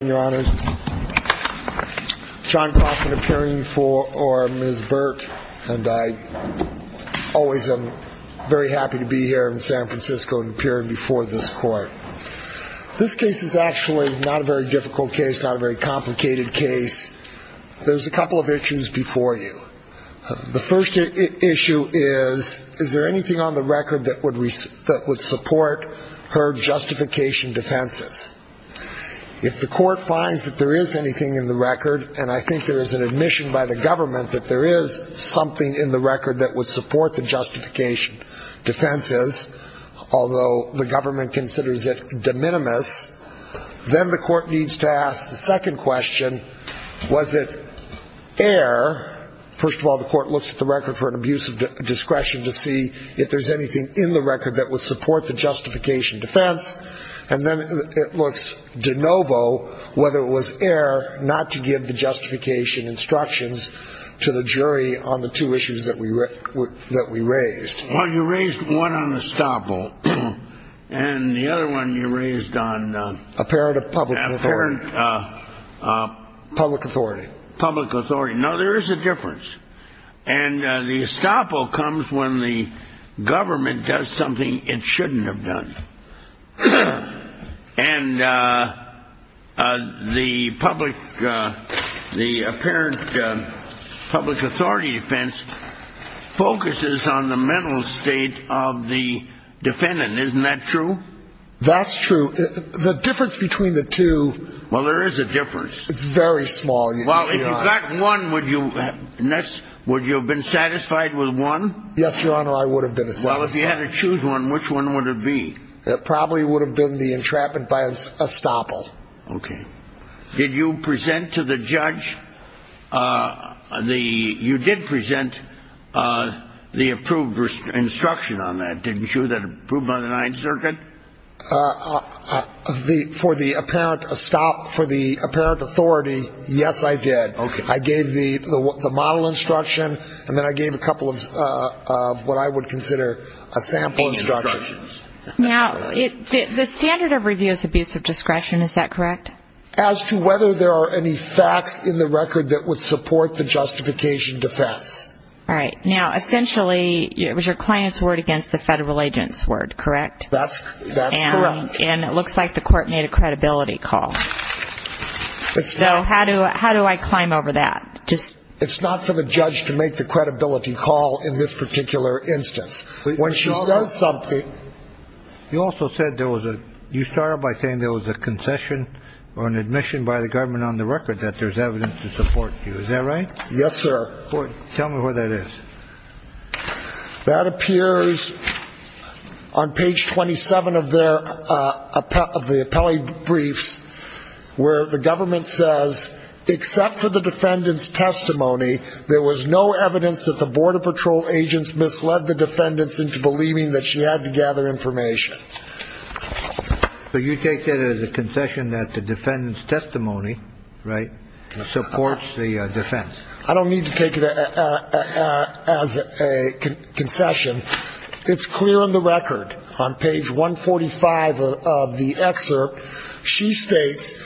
Your Honor, John Costin appearing before Ms. Burt, and I always am very happy to be here in San Francisco, appearing before this court. This case is actually not a very difficult case, not a very complicated case. There's a couple of issues before you. The first issue is, is there anything on the record that would support her justification defenses. If the court finds that there is anything in the record, and I think there is an admission by the government that there is something in the record that would support the justification defenses, although the government considers it de minimis, then the court needs to ask the second question, was it air, first of all the court looks at the record for an abuse of discretion to see if there's anything in the record that would support the justification defense, and then it looks de novo whether it was air not to give the justification instructions to the jury on the two issues that we raised. Well, you raised one on estoppel, and the other one you raised on apparent public authority. No, there is a difference. And the estoppel comes when the government does something it shouldn't have done. And the public, the apparent public authority defense focuses on the mental state of the defendant. Isn't that true? That's true. The difference between the two. Well, there is a difference. It's very small. Well, if you got one, would you have been satisfied with one? Yes, Your Honor, I would have been satisfied. Well, if you had to choose one, which one would it be? It probably would have been the entrapment by estoppel. Okay. Did you present to the judge, you did present the approved instruction on that, didn't you? That approved by the 9th Circuit? For the apparent authority, yes, I did. I gave the model instruction, and then I gave a couple of what I would consider a sample instruction. Now, the standard of review is abuse of discretion, is that correct? As to whether there are any facts in the record that would support the justification defense. All right. Now, essentially, it was your client's word against the federal agent's word, correct? That's correct. And it looks like the court made a credibility call. So how do I climb over that? It's not for the judge to make the credibility call in this particular instance. When she says something... You also said there was a, you started by saying there was a concession or an admission by the government on the record that there's evidence to support you, is that right? Yes, sir. Tell me where that is. That appears on page 27 of their, of the appellee briefs, where the government says, except for the defendant's testimony, there was no evidence that the Border Patrol agents misled the defendants into believing that she had to gather information. So you take that as a concession that the defendant's testimony, right, supports the defense? I don't need to take it as a concession. It's clear on the record, on page 145 of the excerpt, she states,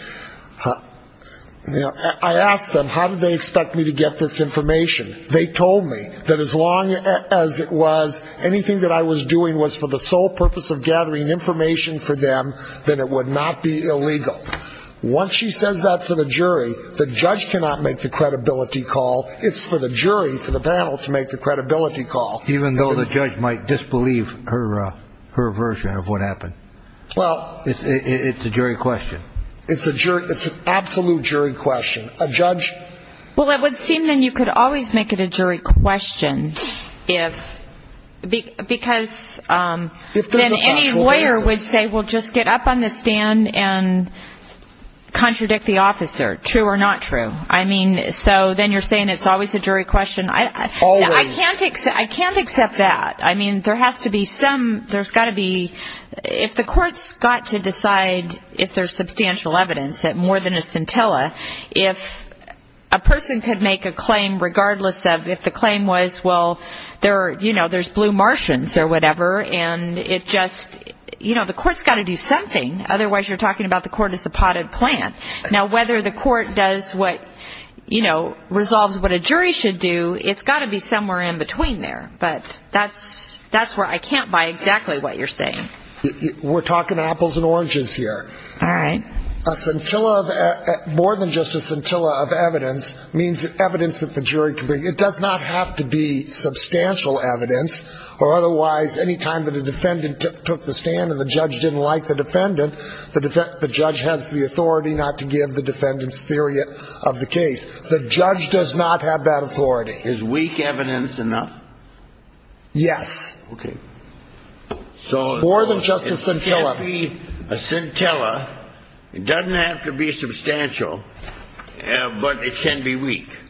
I asked them, how did they expect me to get this information? They told me that as long as it was anything that I was doing was for the sole purpose of gathering information for them, then it would not be illegal. Once she says that to the jury, the judge cannot make the credibility call. It's for the jury, for the panel to make the credibility call. Even though the judge might disbelieve her version of what happened? Well, it's a jury question. It's an absolute jury question. A judge? Well, it would seem then you could always make it a jury question if, because then any lawyer would say, well, just get up on the stand and contradict the officer, true or not true. I mean, so then you're saying it's always a jury question? Always. I can't accept that. I mean, there has to be some ‑‑ there's got to be ‑‑ if the courts got to decide if there's substantial evidence that more than a scintilla, if a person could make a claim regardless of if the claim was, well, there are, you know, there's blue Martians or whatever, and it just ‑‑ you know, the court's got to do something, otherwise you're talking about the court as a potted plant. Now, whether the court does what, you know, resolves what a jury should do, it's got to be somewhere in between there. But that's where I can't buy exactly what you're saying. We're talking apples and oranges here. All right. A scintilla of ‑‑ more than just a scintilla of evidence means evidence that the jury can bring. It does not have to be substantial evidence or otherwise any time that a defendant took the stand and the judge didn't like the defendant, the judge has the authority not to give the defendant's theory of the case. The judge does not have that authority. Is weak evidence enough? Yes. Okay. More than just a scintilla. So it can't be a scintilla. It doesn't have to be substantial, but it can be weak.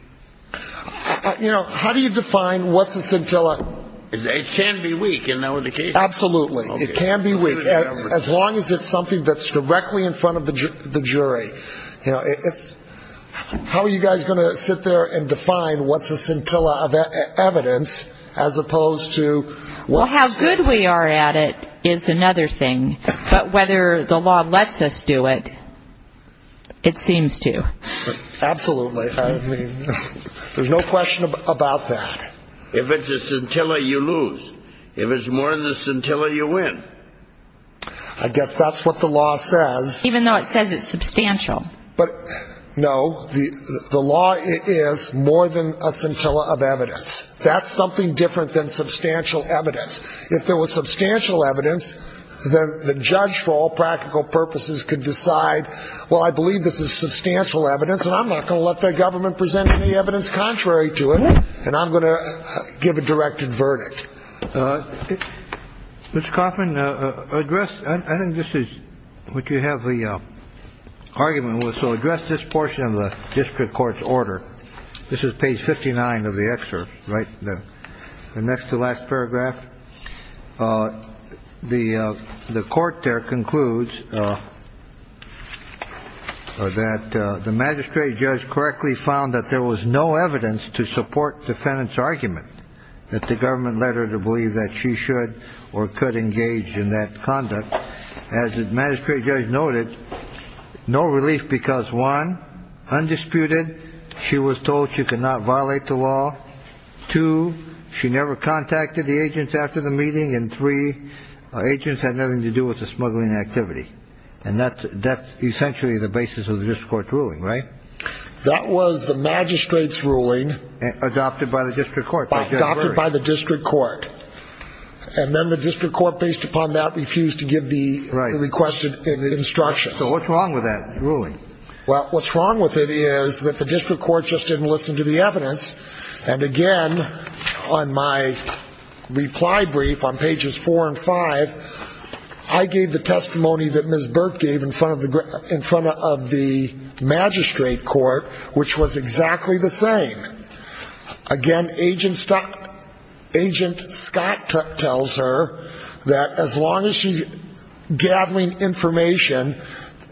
You know, how do you define what's a scintilla? It can be weak in that case. Absolutely. It can be weak. As long as it's something that's directly in front of the jury. You know, it's ‑‑ how are you guys going to sit there and define what's a scintilla of evidence as opposed to ‑‑ Well, how good we are at it is another thing. But whether the law lets us do it, it seems to. Absolutely. I mean, there's no question about that. If it's a scintilla, you lose. If it's more than a scintilla, you win. I guess that's what the law says. Even though it says it's substantial. No, the law is more than a scintilla of evidence. That's something different than substantial evidence. If there was substantial evidence, then the judge for all practical purposes could decide, well, I believe this is substantial evidence and I'm not going to let the government present any evidence contrary to it and I'm going to give a directed verdict. Mr. Coffman, address ‑‑ I think this is what you have the argument with. So address this portion of the district court's order. This is page 59 of the excerpt, right next to the last paragraph. The court there concludes that the magistrate judge correctly found that there was no evidence to support defendant's argument that the government led her to believe that she should or could engage in that conduct. As the magistrate judge noted, no relief because, one, undisputed, she was told she could not violate the law. Two, she never contacted the agents after the meeting. And three, agents had nothing to do with the smuggling activity. And that's essentially the basis of the district court's ruling, right? That was the magistrate's ruling. Adopted by the district court. Adopted by the district court. And then the district court, based upon that, refused to give the requested instructions. So what's wrong with that ruling? Well, what's wrong with it is that the district court just didn't listen to the evidence. And again, on my reply brief on pages four and five, I gave the testimony that Ms. Burke gave in front of the magistrate court, which was exactly the same. Again, Agent Scott tells her that as long as she's gathering information,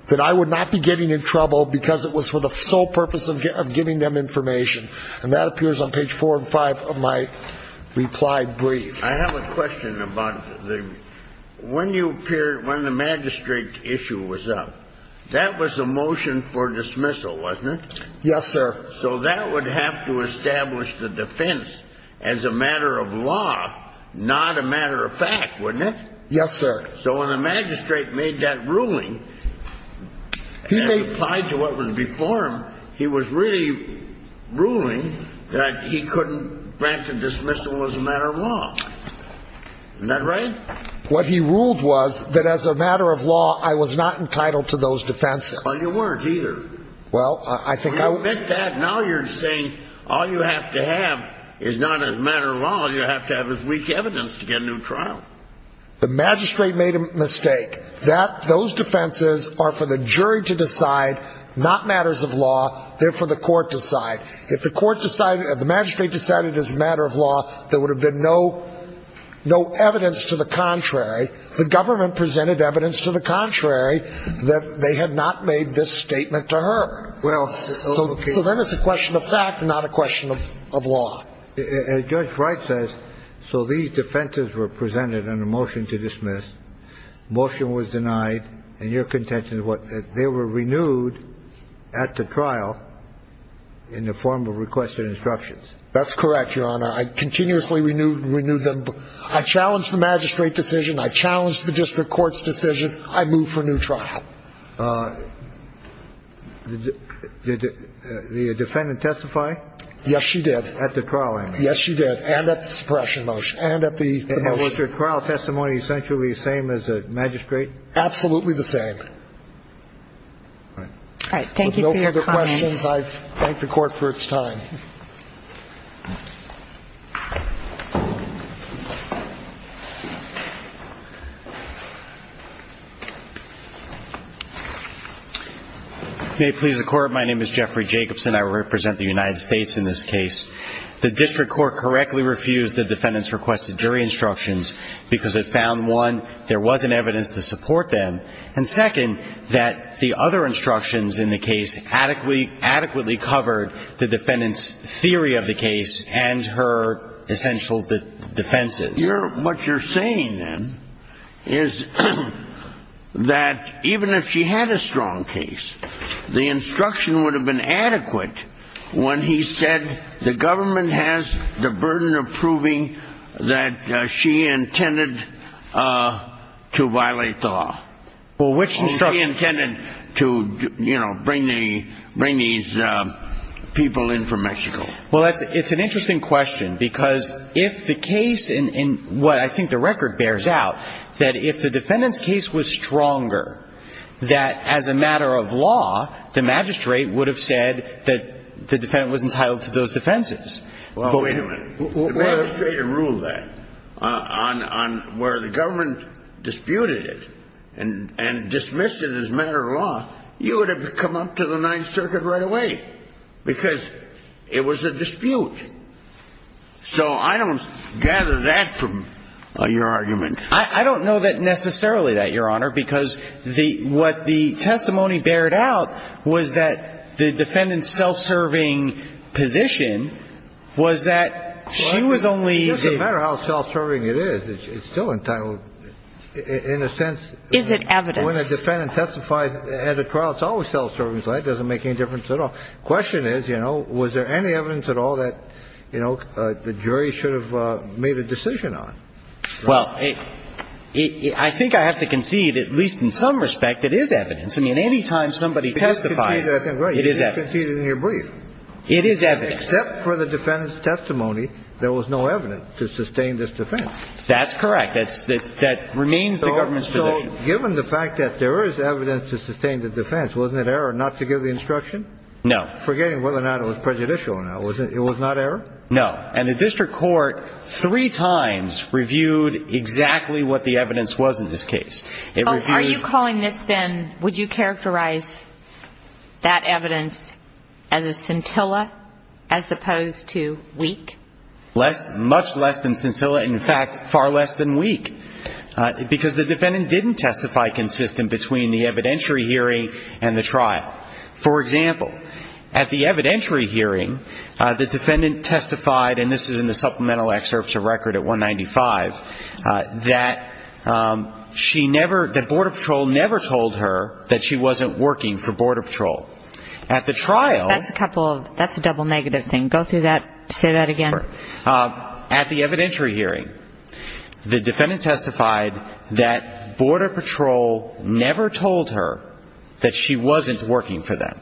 that I would not be getting in trouble because it was for the sole purpose of getting them information. And that appears on page four and five of my reply brief. I have a question about when you appeared, when the magistrate issue was up, that was a motion for dismissal, wasn't it? Yes, sir. So that would have to establish the defense as a matter of law, not a matter of fact, wouldn't it? Yes, sir. So when the magistrate made that ruling, as applied to what was before him, he was really ruling that he couldn't grant the dismissal as a matter of law. Isn't that right? What he ruled was that as a matter of law, I was not entitled to those defenses. Well, you weren't either. Well, I think I... You admit that, now you're saying all you have to have is not as a matter of law, you have to have as weak evidence to get a new trial. The magistrate made a mistake. That, those defenses are for the jury to decide, not matters of law, therefore the court decide. If the magistrate decided as a matter of law, there would have been no evidence to the contrary. The government presented evidence to the contrary that they had not made this statement to her. So then it's a question of fact and not a question of law. As Judge Wright says, so these defenses were presented on a motion to dismiss, motion was a trial in the form of requested instructions. That's correct, Your Honor. I continuously renewed them. I challenged the magistrate decision, I challenged the district court's decision, I moved for a new trial. Did the defendant testify? Yes, she did. At the trial, I mean. Yes, she did, and at the suppression motion, and at the motion. And was her trial testimony essentially the same as the magistrate? Absolutely the same. All right. Thank you for your comments. With no further questions, I thank the court for its time. May it please the court, my name is Jeffrey Jacobson, I represent the United States in this case. The district court correctly refused the defendant's requested jury instructions because it found, one, there wasn't evidence to support them, and second, that the other instructions in the case adequately covered the defendant's theory of the case and her essential defenses. What you're saying, then, is that even if she had a strong case, the instruction would have been adequate when he said the government has the burden of proving that she intended to violate the law. Well, which instruction? That she intended to, you know, bring these people in from Mexico. Well, it's an interesting question, because if the case, and what I think the record bears out, that if the defendant's case was stronger, that as a matter of law, the magistrate would have said that the defendant was entitled to those defenses. Well, wait a minute. The magistrate had ruled that on where the government disputed it and dismissed it as a matter of law, you would have come up to the Ninth Circuit right away, because it was a dispute. So I don't gather that from your argument. I don't know necessarily that, Your Honor, because what the testimony bared out was that the defendant's self-serving position was that she was only the – Well, it doesn't matter how self-serving it is. It's still entitled, in a sense – Is it evidence? When a defendant testifies at a trial, it's always self-serving, so that doesn't make any difference at all. The question is, you know, was there any evidence at all that, you know, the jury should have made a decision on? Well, I think I have to concede, at least in some respect, it is evidence. I mean, anytime somebody testifies, it is evidence. You conceded, I think, right. You did concede in your brief. It is evidence. Except for the defendant's testimony, there was no evidence to sustain this defense. That's correct. That remains the government's position. Given the fact that there is evidence to sustain the defense, wasn't it error not to give the instruction? No. Forgetting whether or not it was prejudicial or not, it was not error? No. And the district court three times reviewed exactly what the evidence was in this case. It reviewed – Are you calling this then – would you characterize that evidence as a scintilla as opposed to weak? Much less than scintilla. In fact, far less than weak. Because the defendant didn't testify consistent between the evidentiary hearing and the trial. For example, at the evidentiary hearing, the defendant testified, and this is in the supplemental excerpt to record at 195, that she never – that Border Patrol never told her that she wasn't working for Border Patrol. At the trial – That's a couple of – that's a double negative thing. Go through that. Say that again. At the evidentiary hearing, the defendant testified that Border Patrol never told her that she wasn't working for them.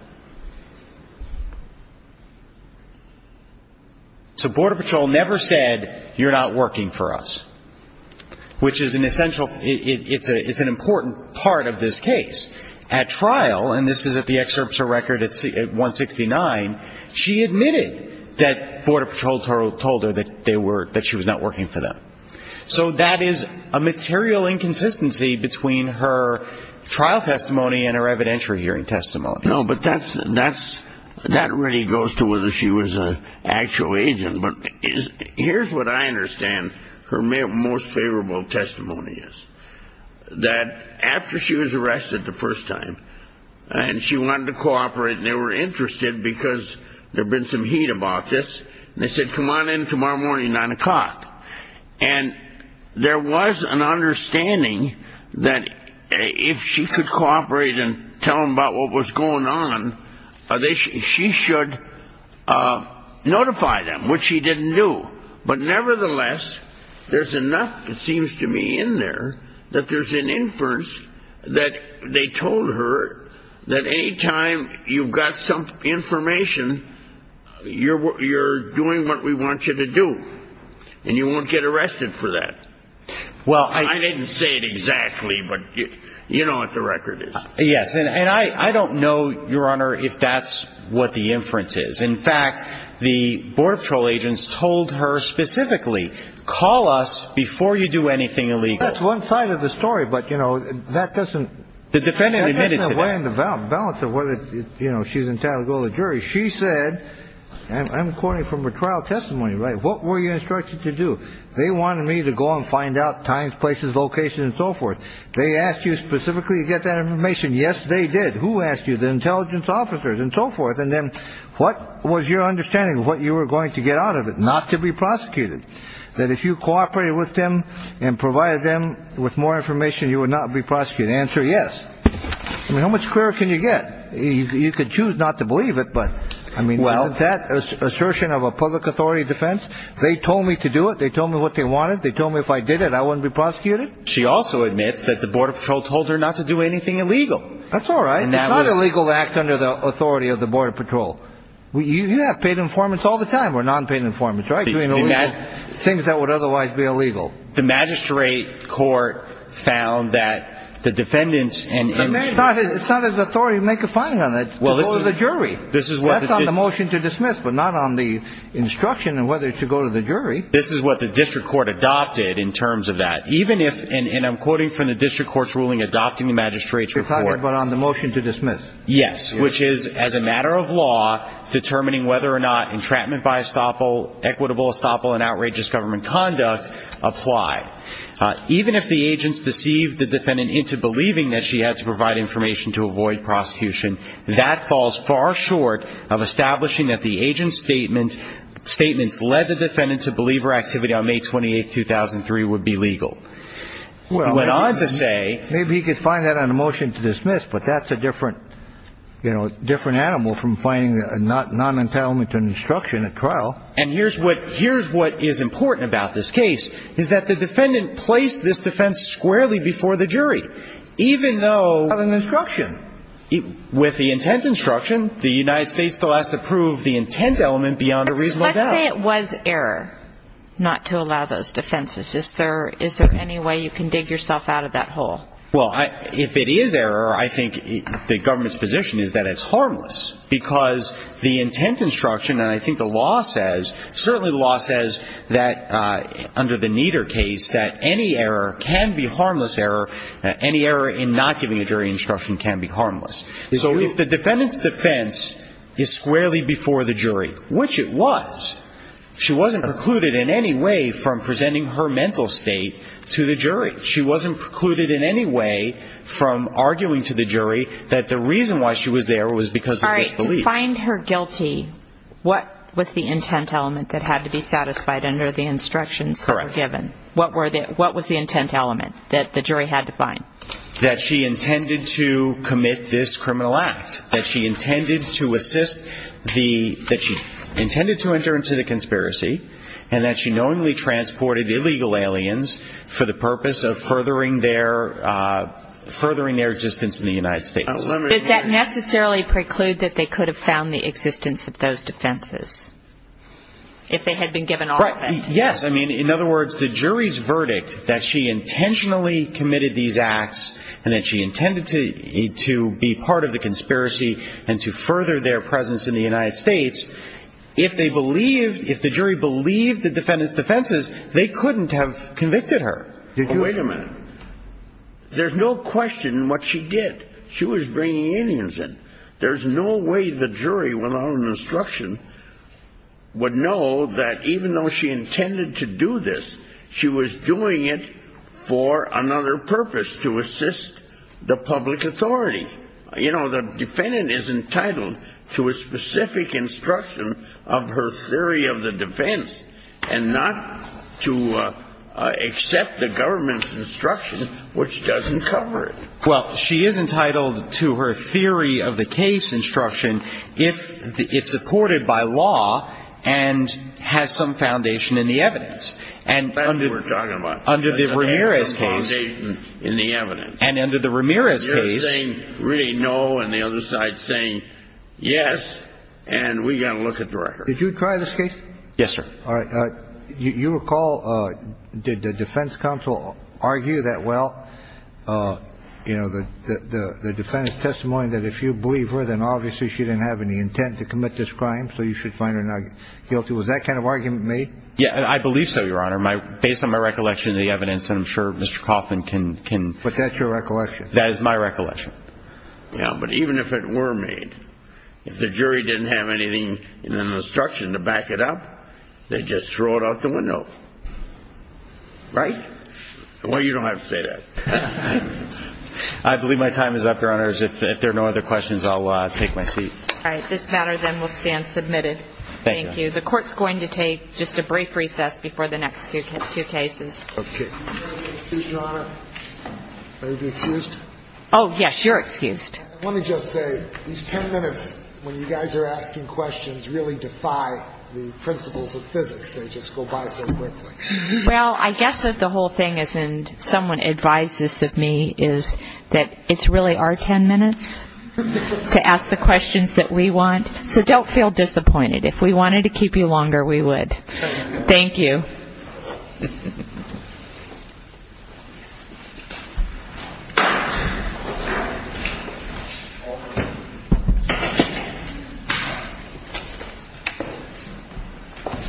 So Border Patrol never said, you're not working for us. Which is an essential – it's an important part of this case. At trial, and this is at the excerpt to record at 169, she admitted that Border Patrol told her that she was not working for them. So that is a material inconsistency between her trial testimony and her evidentiary hearing testimony. No, but that's – that really goes to whether she was an actual agent. But here's what I understand her most favorable testimony is. That after she was arrested the first time, and she wanted to cooperate and they were interested because there had been some heat about this, and they said, come on in tomorrow morning at 9 o'clock. And there was an understanding that if she could cooperate and tell them about what was going on, she should notify them, which she didn't do. But nevertheless, there's enough, it seems to me, in there that there's an inference that they told her that any time you've got some information, you're doing what we want you to do. And you won't get arrested for that. Well, I – I didn't say it exactly, but you know what the record is. Yes. And I don't know, Your Honor, if that's what the inference is. In fact, the Border That's one side of the story. But, you know, that doesn't – The defendant admitted it. That doesn't weigh in the balance of whether, you know, she's entitled to go to the jury. She said, and I'm quoting from her trial testimony, right, what were you instructed to do? They wanted me to go and find out times, places, locations, and so forth. They asked you specifically to get that information. Yes, they did. Who asked you? The intelligence officers and so forth. And then what was your understanding of what you were going to get out of it? Not to be prosecuted. That if you cooperated with them and provided them with more information, you would not be prosecuted. The answer, yes. I mean, how much clearer can you get? You could choose not to believe it, but, I mean, isn't that assertion of a public authority defense? They told me to do it. They told me what they wanted. They told me if I did it, I wouldn't be prosecuted. She also admits that the Border Patrol told her not to do anything illegal. That's all right. And that was – It's not illegal to act under the authority of the Border Patrol. You have paid informants all the time, or non-paid informants, right? Doing things that would otherwise be illegal. The magistrate court found that the defendants – It's not his authority to make a finding on it. Go to the jury. That's on the motion to dismiss, but not on the instruction on whether to go to the jury. This is what the district court adopted in terms of that. Even if – and I'm quoting from the district court's ruling adopting the magistrate's report. You're talking about on the motion to dismiss. Yes. Which is, as a matter of law, determining whether or not entrapment by estoppel, equitable estoppel, and outrageous government conduct apply. Even if the agents deceived the defendant into believing that she had to provide information to avoid prosecution, that falls far short of establishing that the agent's statements led the defendant to believe her activity on May 28, 2003 would be legal. He went on to say – Maybe he could find that on the motion to dismiss, but that's a different animal from finding a non-entitlement to an instruction at trial. And here's what is important about this case, is that the defendant placed this defense squarely before the jury, even though – Not an instruction. With the intent instruction, the United States still has to prove the intent element beyond a reasonable doubt. Let's say it was error not to allow those defenses. Is there any way you can dig yourself out of that hole? Well, if it is error, I think the government's position is that it's harmless. Because the intent instruction, and I think the law says – certainly the law says that under the Nieder case, that any error can be harmless error. Any error in not giving a jury instruction can be harmless. So if the defendant's defense is squarely before the jury, which it was, she wasn't precluded in any way from presenting her mental state to the jury. She wasn't precluded in any way from arguing to the jury that the reason why she was there was because of disbelief. All right. To find her guilty, what was the intent element that had to be satisfied under the instructions that were given? Correct. What was the intent element that the jury had to find? That she intended to commit this criminal act. That she intended to assist the – that she intentionally committed these acts. And that she knowingly transported illegal aliens for the purpose of furthering their – furthering their existence in the United States. Does that necessarily preclude that they could have found the existence of those defenses? If they had been given all of it? Right. Yes. I mean, in other words, the jury's verdict that she intentionally committed these acts and that she intended to be part of the conspiracy and to further their presence in the United States, if they believed – if the jury believed the defendant's defenses, they couldn't have convicted her. Well, wait a minute. There's no question what she did. She was bringing aliens in. There's no way the jury, without an instruction, would know that even though she intended to do this, she was doing it for another purpose, to assist the public authority. You know, the defendant is entitled to a specific instruction of her theory of the defense and not to accept the government's instruction, which doesn't cover it. Well, she is entitled to her theory of the case instruction if it's supported by law and has some foundation in the evidence. That's what we're talking about. Under the Ramirez case – Has some foundation in the evidence. And under the Ramirez case – You're saying really no, and the other side's saying yes, and we've got to look at the record. Did you try this case? Yes, sir. All right. You recall, did the defense counsel argue that, well, you know, the defendant's testimony that if you believe her, then obviously she didn't have any intent to commit this crime, so you should find her not guilty. Was that kind of argument made? Yeah, I believe so, Your Honor. Based on my recollection of the evidence, I'm sure Mr. Kaufman can – But that's your recollection? That is my recollection. Yeah, but even if it were made, if the jury didn't have anything in the instruction to back it up, they'd just throw it out the window. Right? Well, you don't have to say that. I believe my time is up, Your Honors. If there are no other questions, I'll take my seat. All right. This matter then will stand submitted. Thank you. The Court's going to take just a brief recess before the next two cases. Okay. Excuse me, Your Honor. May we be excused? Oh, yes. You're excused. Let me just say, these ten minutes when you guys are asking questions really defy the principles of physics. They just go by so quickly. Well, I guess that the whole thing is – and someone advised this of me – is that it really are ten minutes to ask the questions that we want. So don't feel disappointed. If we wanted to keep you longer, we would. Thank you. Thank you.